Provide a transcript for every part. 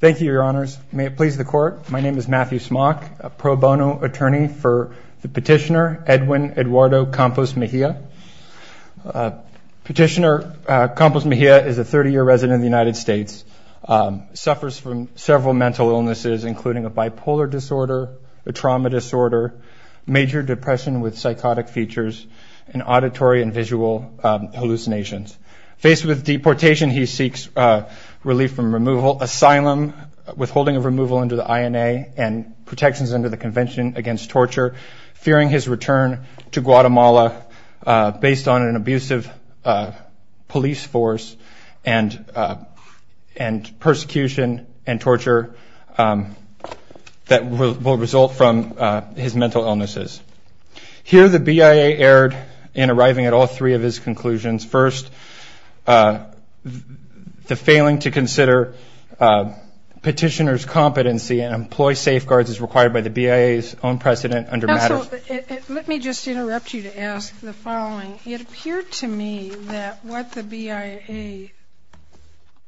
thank you your honors may it please the court my name is Matthew Smock a pro bono attorney for the petitioner Edwin Eduardo Campos Mejia. Petitioner Campos Mejia is a 30-year resident of the United States suffers from several mental illnesses including a bipolar disorder, a trauma disorder, major depression with psychotic features, and auditory and visual hallucinations. Faced with deportation he seeks relief from removal, asylum, withholding of removal into the INA, and protections under the Convention Against Torture fearing his return to Guatemala based on an abusive police force and and persecution and torture that will result from his mental illnesses. Here the BIA erred in arriving at all three of his conclusions. First the failing to consider petitioners competency and employ safeguards is required by the BIA's own precedent under matter. Let me just interrupt you to ask the following it appeared to me that what the BIA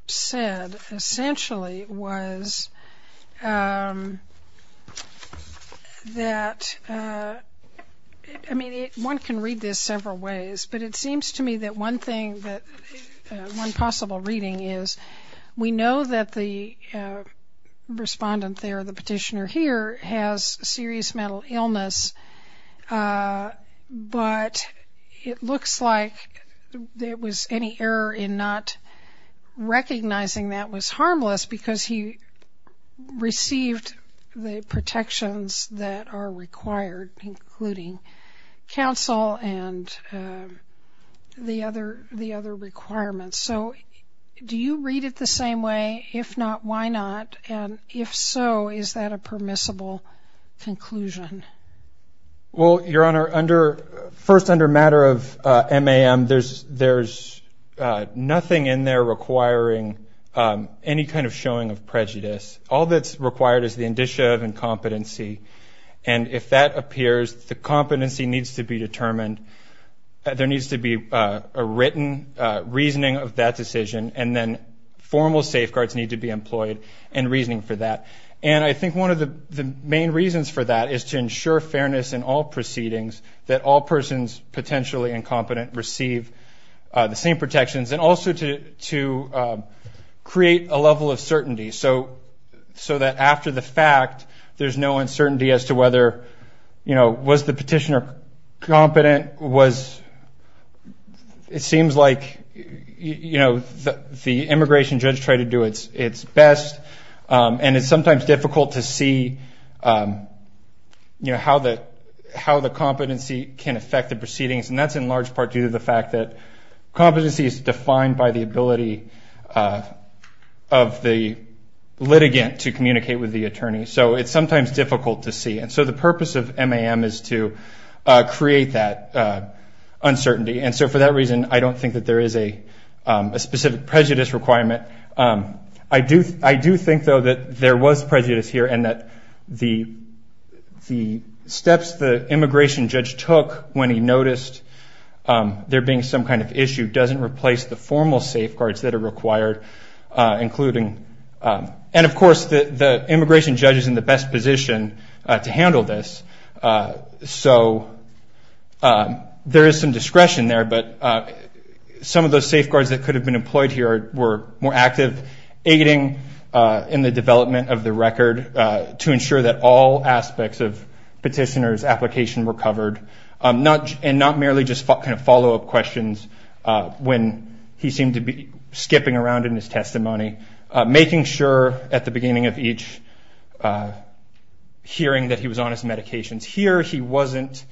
said essentially was that I mean one can read this several ways but it seems to me that one thing that one possible reading is we know that the respondent there the petitioner here has serious mental illness but it looks like there was any error in not recognizing that was harmless because he the other the other requirements so do you read it the same way if not why not and if so is that a permissible conclusion? Well your honor under first under matter of MAM there's there's nothing in there requiring any kind of showing of prejudice all that's required is the indicia of incompetency and if that appears the competency needs to be determined there needs to be a written reasoning of that decision and then formal safeguards need to be employed and reasoning for that and I think one of the main reasons for that is to ensure fairness in all proceedings that all persons potentially incompetent receive the same protections and also to to create a level of certainty so so that after the fact there's no uncertainty as to whether you know was the petitioner competent was it seems like you know the immigration judge try to do its its best and it's sometimes difficult to see you know how that how the competency can affect the proceedings and that's in large part due to the fact that competency is defined by the ability of the litigant to communicate with the attorney so it's sometimes difficult to see and so the purpose of MAM is to create that uncertainty and so for that reason I don't think that there is a specific prejudice requirement I do I do think though that there was prejudice here and that the the steps the immigration judge took when he noticed there being some kind of issue doesn't replace the formal safeguards that are required including and of course the immigration judge is in the best position to handle this so there is some discretion there but some of those safeguards that could have been employed here were more active aiding in the development of the record to ensure that all aspects of petitioners application were covered not and not merely just kind of follow-up questions when he seemed to be skipping around in his testimony making sure at the beginning of each hearing that he was on his medications here he wasn't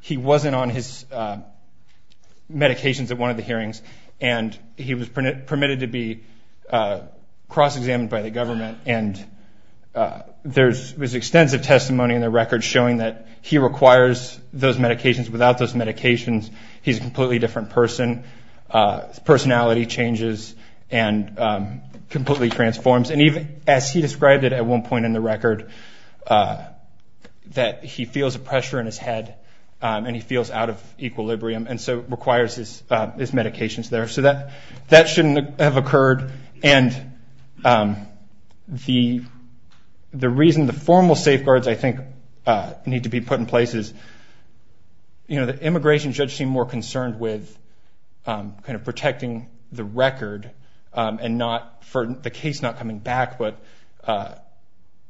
he wasn't on his medications at one of the hearings and he was permitted to be cross-examined by the government and there's was extensive testimony in the record showing that he requires those medications without those medications he's a completely different person personality changes and completely transforms and even as he described it at one point in the record that he feels a pressure in his head and he feels out of equilibrium and so requires his medications there so that that shouldn't have occurred and the the reason the formal safeguards I think need to be put in place is you know the immigration judge seemed more concerned with kind of protecting the record and not for the case not coming back but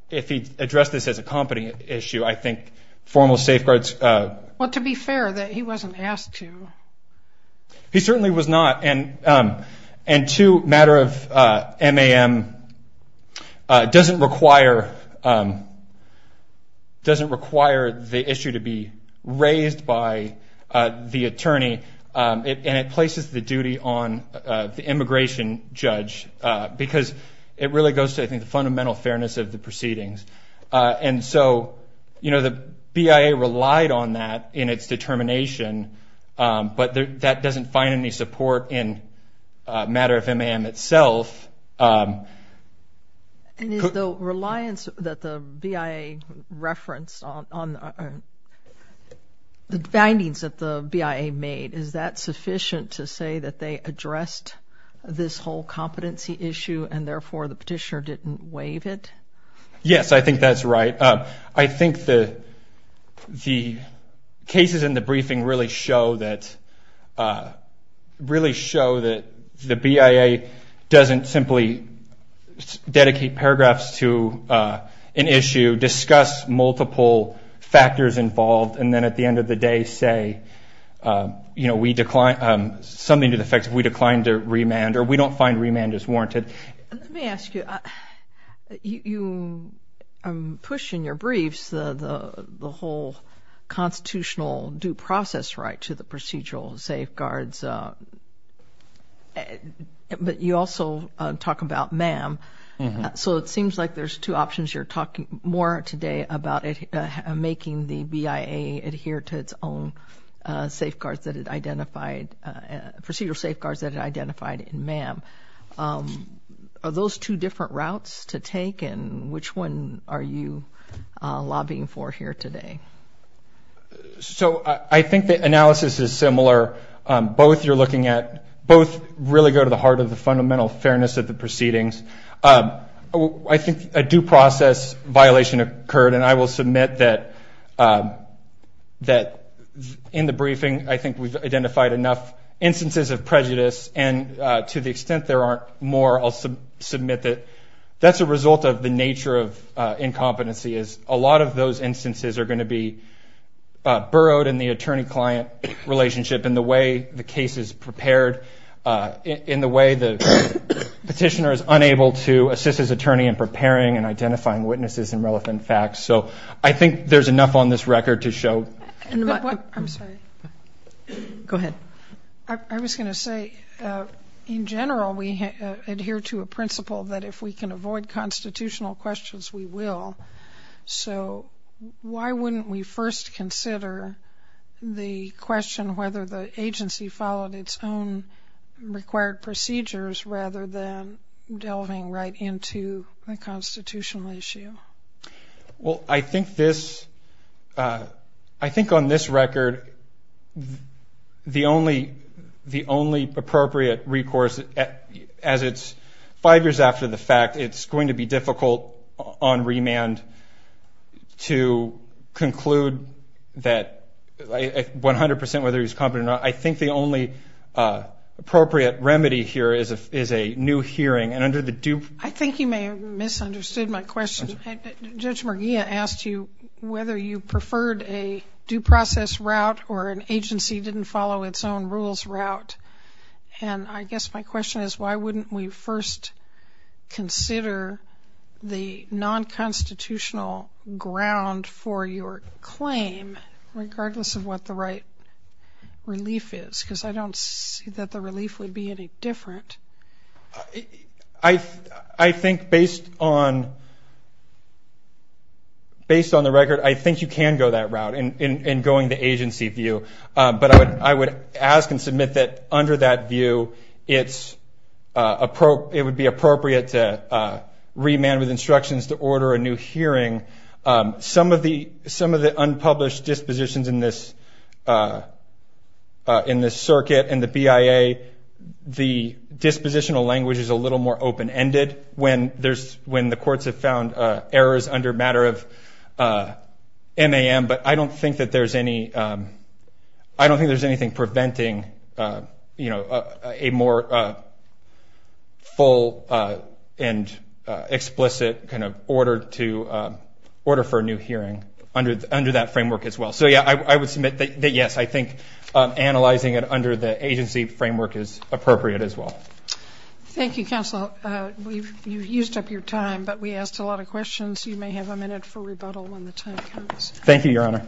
if he addressed this as a company issue I think formal safeguards what to be fair that he wasn't asked to he certainly was not and and to matter of MAM doesn't require doesn't require the issue to be raised by the attorney and it places the duty on the immigration judge because it really goes to I think the fundamental fairness of the proceedings and so you know the BIA relied on that in its determination but that doesn't find any support in a matter of MAM itself and is the reliance that the BIA reference on the findings that the BIA made is that sufficient to say that they addressed this whole competency issue and therefore the petitioner didn't waive it yes I think that's right up I think the the cases in the briefing really show that really show that the BIA doesn't simply dedicate paragraphs to an issue discuss multiple factors involved and then at the end of the day say you know we decline something to the effect if we declined to remand or we don't find remand is warranted let me ask you you I'm pushing your briefs the the whole constitutional due process right to the procedural safeguards but you also talk about MAM so it seems like there's two options you're talking more today about it making the BIA adhere to its own safeguards that it identified procedural safeguards that identified in MAM are those two different routes to take and which one are you lobbying for here today so I think the analysis is similar both you're looking at both really go to the heart of the fundamental fairness of the proceedings I think a due process violation occurred and I will submit that that in the briefing I think we've identified enough instances of prejudice and to the extent there aren't more I'll submit that that's a result of the nature of incompetency is a lot of those instances are going to be burrowed in the attorney-client relationship in the way the case is prepared in the way the petitioner is unable to assist his attorney in preparing and identifying witnesses and relevant facts so I think there's enough on this record to show I was going to say in general we adhere to a principle that if we can avoid constitutional questions we will so why wouldn't we first consider the question whether the agency followed its own required procedures rather than delving right into the constitutional issue well I think this I think on this record the only the only appropriate recourse as it's five years after the fact it's going to be difficult on remand to conclude that 100% whether he's competent or not I think the only appropriate remedy here is a is a new hearing and under the do I think you may have misunderstood my question judge Murguia asked you whether you preferred a due process route or an agency didn't follow its own rules route and I guess my question is why wouldn't we first consider the non-constitutional ground for your claim regardless of what the right relief is because I don't see that the relief would be any different I I think based on based on the record I think you can go that route in going the agency view but I would I would ask and submit that under that view it's a it would be appropriate to remand with instructions to order a new hearing some of the some of the unpublished dispositions in this in this circuit and the BIA the dispositional language is a little more open-ended when there's when the courts have found errors under matter of ma'am but I don't think that there's any I don't think there's anything preventing you know a more full and explicit kind of order to order for a new hearing under under that framework as well so yeah I would submit that yes I think analyzing it under the agency framework is appropriate as well thank you counsel we've used up your time but we asked a lot of questions you may have a minute for rebuttal when the time thank you your honor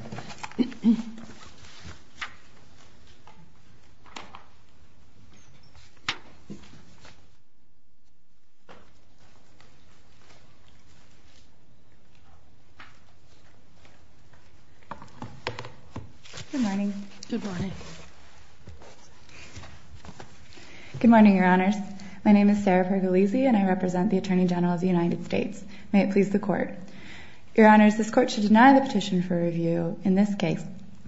good morning your honors my name is Sarah for the lazy and I represent the Attorney General of the United States may it please the court your honors this court should deny the petition for review in this case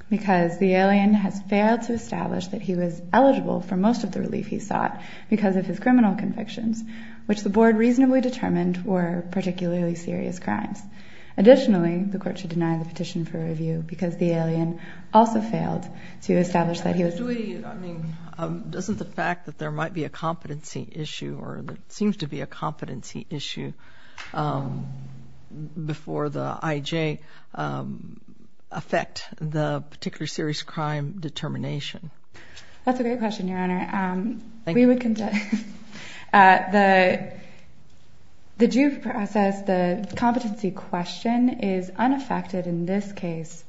because the alien has failed to establish that he was eligible for most of the relief he sought because of his criminal convictions which the board reasonably determined were particularly serious crimes additionally the court should deny the petition for review because the alien also failed to establish that he was doing I mean doesn't the fact that there might be a competency issue or the IJ affect the particular serious crime determination that's a great question your honor we would conduct the the due process the competency question is unaffected in this case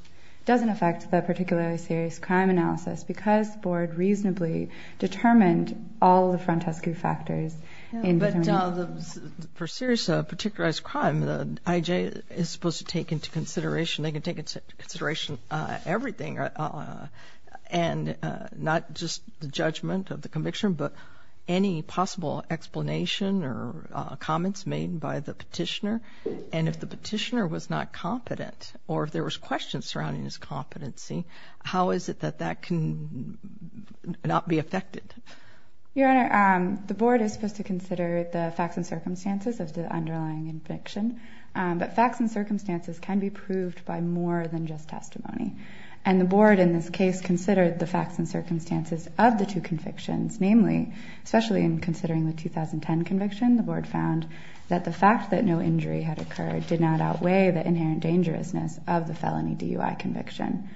doesn't affect the particularly serious crime analysis because board reasonably determined all the frontescue factors in for serious a particularized crime the IJ is supposed to take into consideration they can take into consideration everything and not just the judgment of the conviction but any possible explanation or comments made by the petitioner and if the petitioner was not competent or if there was questions surrounding his competency how is it that that can not be affected your honor the board is supposed to consider the facts and circumstances of the underlying conviction but facts and circumstances can be proved by more than just testimony and the board in this case considered the facts and circumstances of the two convictions namely especially in considering the 2010 conviction the board found that the fact that no injury had occurred did not outweigh the inherent dangerousness of the felony DUI conviction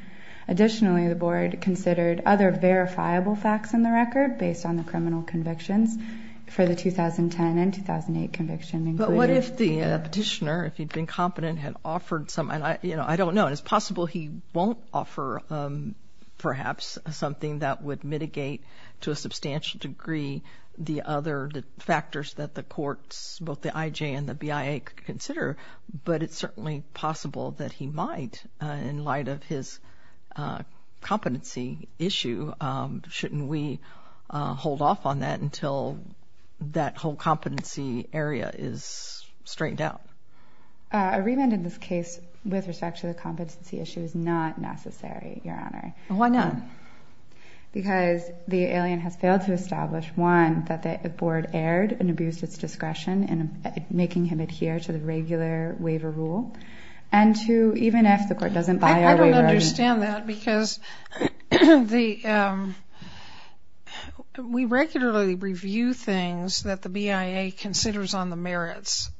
additionally the board considered other verifiable facts in the record based on the convictions for the 2010 and 2008 conviction but what if the petitioner if he'd been competent had offered some and I you know I don't know it's possible he won't offer perhaps something that would mitigate to a substantial degree the other factors that the courts both the IJ and the BIA could consider but it's certainly possible that he might in light of his competency issue shouldn't we hold off on that until that whole competency area is straightened out a remand in this case with respect to the competency issue is not necessary your honor why not because the alien has failed to establish one that the board erred and abused its discretion in making him adhere to the regular waiver rule and to even if the court doesn't I don't understand that because the we regularly review things that the BIA considers on the merits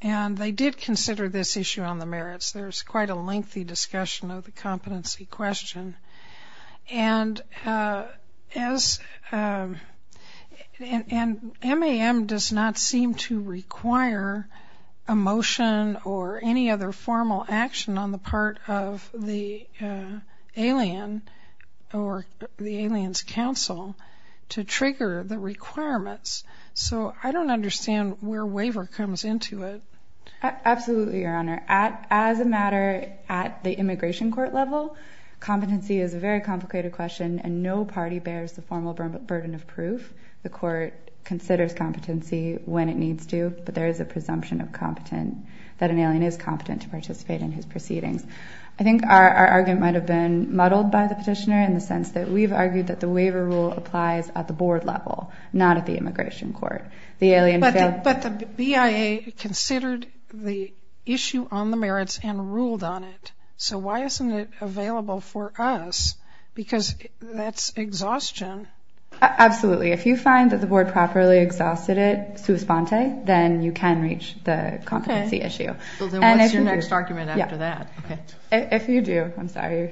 and they did consider this issue on the merits there's quite a lengthy discussion of emotion or any other formal action on the part of the alien or the aliens counsel to trigger the requirements so I don't understand where waiver comes into it absolutely your honor at as a matter at the immigration court level competency is a very complicated question and no party bears the formal burden of proof the court considers competency when it needs to but there is a presumption of competent that an alien is competent to participate in his proceedings I think our argument might have been muddled by the petitioner in the sense that we've argued that the waiver rule applies at the board level not at the immigration court the alien but the BIA considered the issue on the merits and ruled on it so why isn't it available for us because that's exhaustion absolutely if you find that the board properly exhausted it then you can reach the competency issue and if you do I'm sorry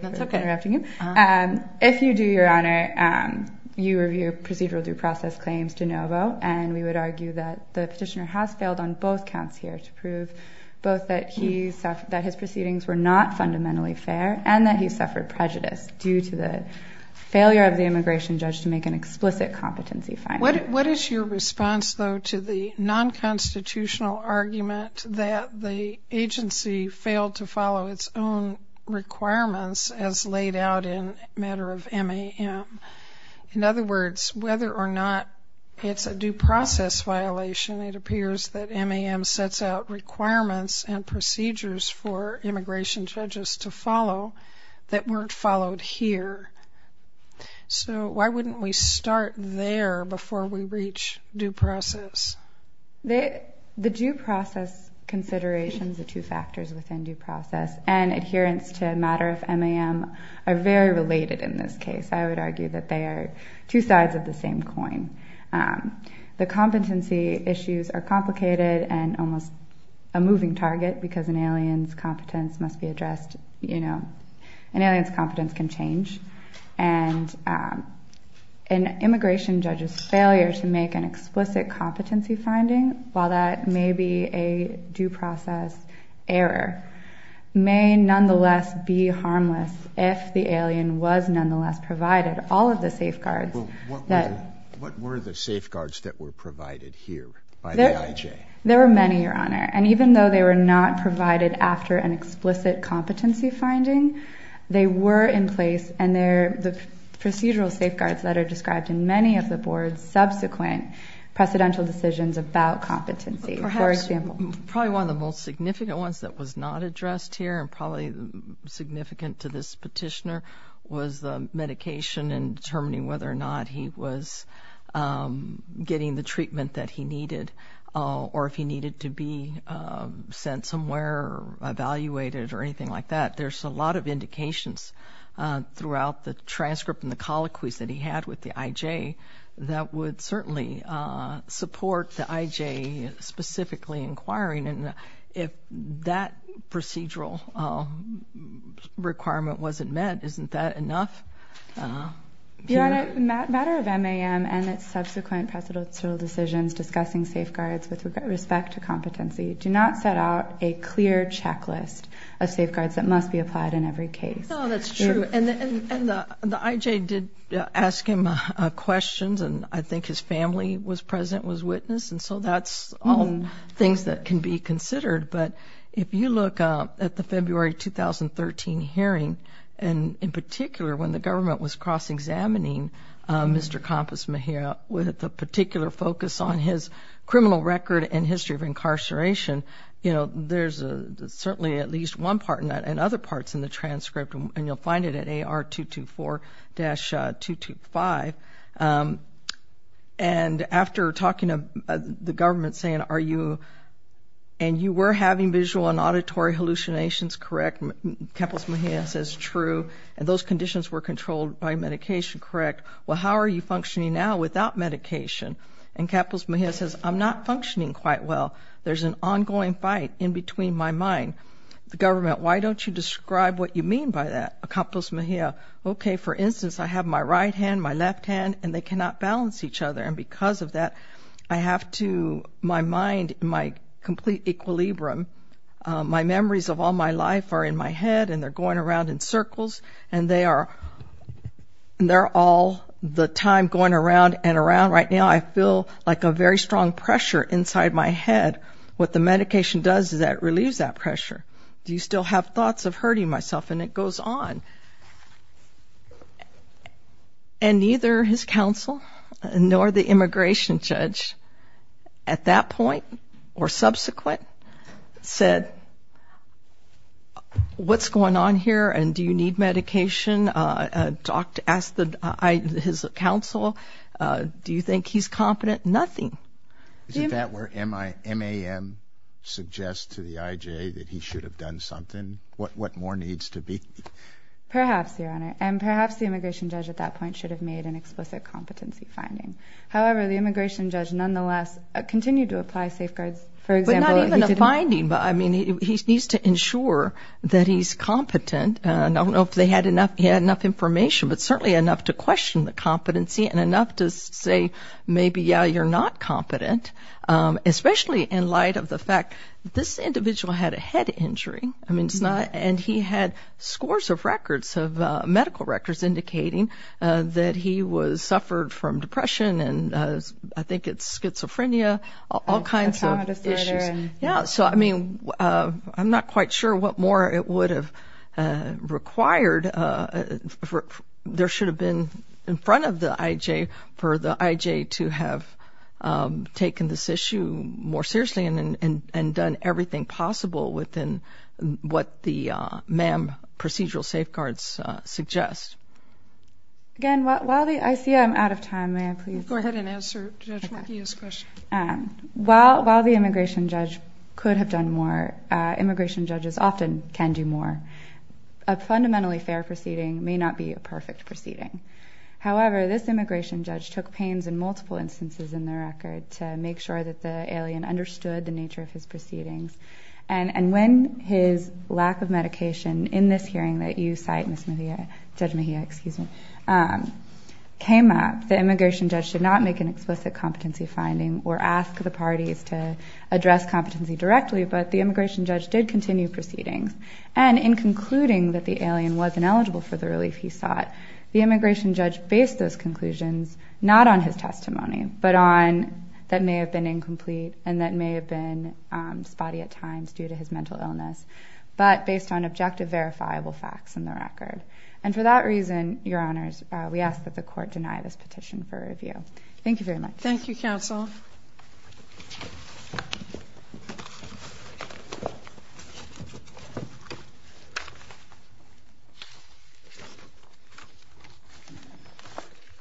and if you do your honor and you review procedural due process claims de novo and we would argue that the petitioner has failed on both counts here to prove both that he said that his proceedings were not fundamentally fair and that he suffered prejudice due to the failure of the immigration judge to make an explicit competency fine what is your response though to the non-constitutional argument that the agency failed to follow its own requirements as laid out in matter of MAM in other words whether or not it's a due process violation it appears that MAM sets out requirements and procedures for immigration judges to so why wouldn't we start there before we reach due process they the due process considerations the two factors within due process and adherence to matter of MAM are very related in this case I would argue that they are two sides of the same coin the competency issues are complicated and almost a moving target because an alien's competence must be addressed you know an alien's competence can change and an immigration judge's failure to make an explicit competency finding while that may be a due process error may nonetheless be harmless if the alien was nonetheless provided all of the safeguards that what were the safeguards that were provided here by the IJ there were many your honor and even though they were not provided after an explicit competency finding they were in place and they're the procedural safeguards that are described in many of the board's subsequent precedential decisions about competency for example probably one of the most significant ones that was not addressed here and probably significant to this petitioner was the medication and determining whether or not he was getting the treatment that he needed or if he needed to be sent somewhere evaluated or anything like that there's a lot of throughout the transcript and the colloquies that he had with the IJ that would certainly support the IJ specifically inquiring and if that procedural requirement wasn't met isn't that enough? Your honor, the matter of MAM and its subsequent precedential decisions discussing safeguards with respect to competency do not set out a clear checklist of safeguards that must be And the IJ did ask him questions and I think his family was present was witness and so that's all things that can be considered but if you look up at the February 2013 hearing and in particular when the government was cross-examining Mr. Kampos Mejia with the particular focus on his criminal record and history of incarceration you know there's a certainly at least one part and other parts in the transcript and you'll find it at AR 224-225 and after talking to the government saying are you and you were having visual and auditory hallucinations correct? Kampos Mejia says true and those conditions were controlled by medication correct? Well how are you functioning now without medication and Kampos Mejia says I'm not functioning quite well there's an why don't you describe what you mean by that? Kampos Mejia okay for instance I have my right hand my left hand and they cannot balance each other and because of that I have to my mind my complete equilibrium my memories of all my life are in my head and they're going around in circles and they are they're all the time going around and around right now I feel like a very strong pressure inside my head what the medication does is that relieves that pressure do you still have thoughts of hurting myself and it goes on and neither his counsel nor the immigration judge at that point or subsequent said what's going on here and do you need medication? I talked to ask the I his counsel do you think he's competent nothing. Is that where MAM suggests to the IJ that he should have done something what what more needs to be? Perhaps your honor and perhaps the immigration judge at that point should have made an explicit competency finding however the immigration judge nonetheless continued to apply safeguards for example. But not even a finding but I mean he needs to ensure that he's competent and I don't know if they had enough he had enough information but to say maybe yeah you're not competent especially in light of the fact this individual had a head injury I mean it's not and he had scores of records of medical records indicating that he was suffered from depression and I think it's schizophrenia all kinds of issues yeah so I mean I'm not quite sure what more it would have required there should have been in front of the IJ for the IJ to have taken this issue more seriously and and and done everything possible within what the MAM procedural safeguards suggest. Again while the I see I'm out of time may I please go ahead and answer while the immigration judge could have done more immigration judges often can do more a fundamentally fair proceeding may not be a perfect proceeding however this immigration judge took pains in multiple instances in the record to make sure that the alien understood the nature of his proceedings and and when his lack of medication in this hearing that you cite Ms. Mejia Judge Mejia excuse me came up the immigration judge should not make an explicit competency finding or ask the competency directly but the immigration judge did continue proceedings and in concluding that the alien wasn't eligible for the relief he sought the immigration judge based those conclusions not on his testimony but on that may have been incomplete and that may have been spotty at times due to his mental illness but based on objective verifiable facts in the record and for that reason your honors we ask that the court deny this petition for review thank you very much thank you counsel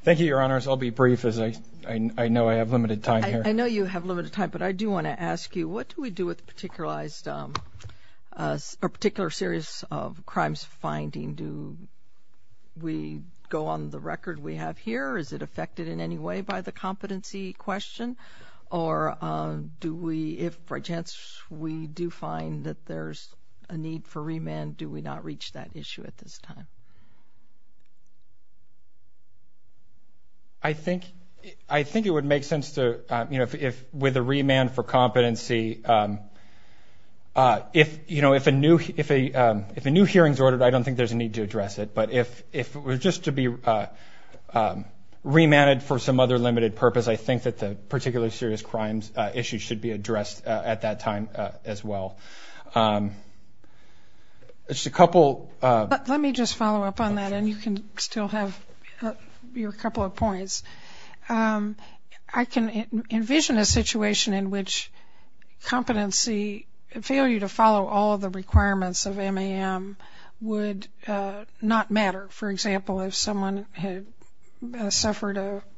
thank you your honors I'll be brief as I know I have limited time here I know you have limited time but I do want to ask you what do we do with particularized particular series of crimes finding do we go on the record we have here is it affected in any way by the competency question or do we if for a chance we do find that there's a need for remand do we not reach that issue at this time I think I think it would make sense to you know if with a remand for competency if you know if a new if a if a new hearings ordered I don't think there's a need to for some other limited purpose I think that the particular serious crimes issues should be addressed at that time as well as a couple let me just follow up on that and you can still have your couple of points I can envision a situation in which competency and fail you to follow all the requirements of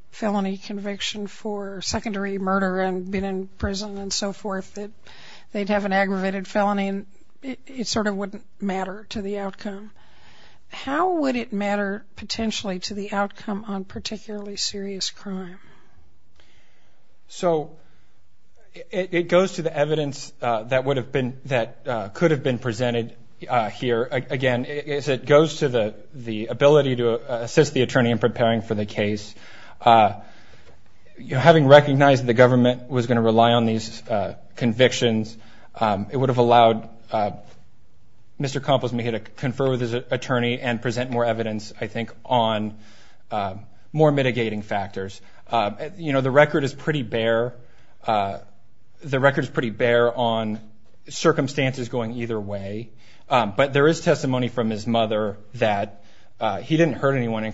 felony conviction for secondary murder and been in prison and so forth that they'd have an aggravated felony it sort of wouldn't matter to the outcome how would it matter potentially to the outcome on particularly serious crime so it goes to the evidence that would have been that could have been presented here again it goes to the the ability to assist the attorney in preparing for the case you having recognized the government was going to rely on these convictions it would have allowed mr. compos me to confer with his attorney and present more evidence I think on more mitigating factors you know the record is pretty bare the record is pretty bare on circumstances going either way but there is testimony from his mother that he didn't hurt anyone in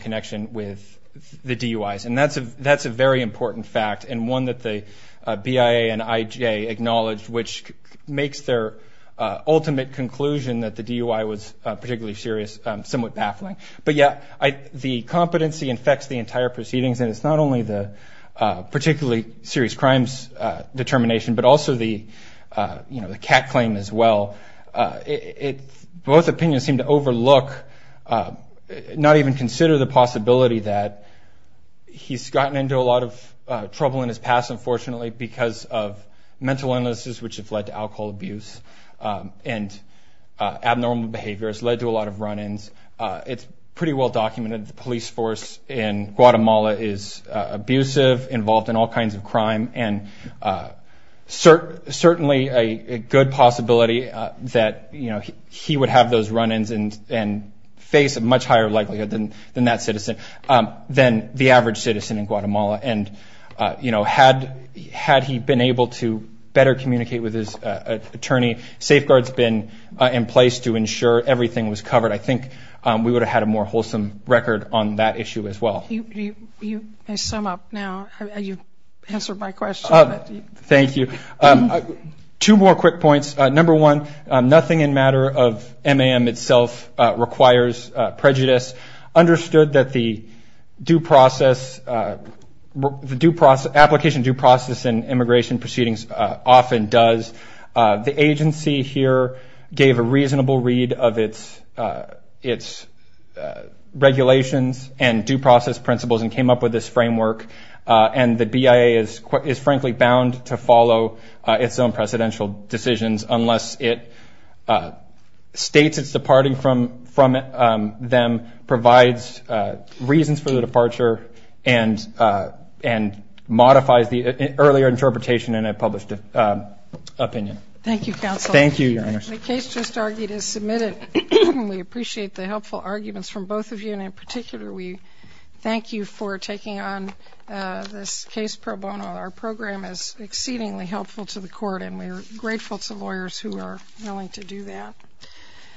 the DUI's and that's a that's a very important fact and one that the BIA and IJ acknowledged which makes their ultimate conclusion that the DUI was particularly serious somewhat baffling but yeah I the competency infects the entire proceedings and it's not only the particularly serious crimes determination but also the you know the cat claim as well it both opinions seem overlook not even consider the possibility that he's gotten into a lot of trouble in his past unfortunately because of mental illnesses which have led to alcohol abuse and abnormal behaviors led to a lot of run-ins it's pretty well documented the police force in Guatemala is abusive involved in all kinds of crime and certainly a good possibility that you know he would have those run-ins and and face a much higher likelihood than than that citizen then the average citizen in Guatemala and you know had had he been able to better communicate with his attorney safeguards been in place to ensure everything was covered I think we would have had a more wholesome record on that issue as well you sum up now you answer my question thank you two more quick points number one nothing in matter of MAM itself requires prejudice understood that the due process due process application due process and immigration proceedings often does the agency here gave a reasonable read of its its regulations and due process principles and came up with this framework and the BIA is frankly bound to follow its own residential decisions unless it states it's departing from from them provides reasons for the departure and and modifies the earlier interpretation and I published a opinion thank you counsel thank you the case just argued is submitted we appreciate the helpful arguments from both of you and in particular we thank you for taking on this case pro bono our program is exceedingly helpful to the court and we're grateful to lawyers who are willing to do that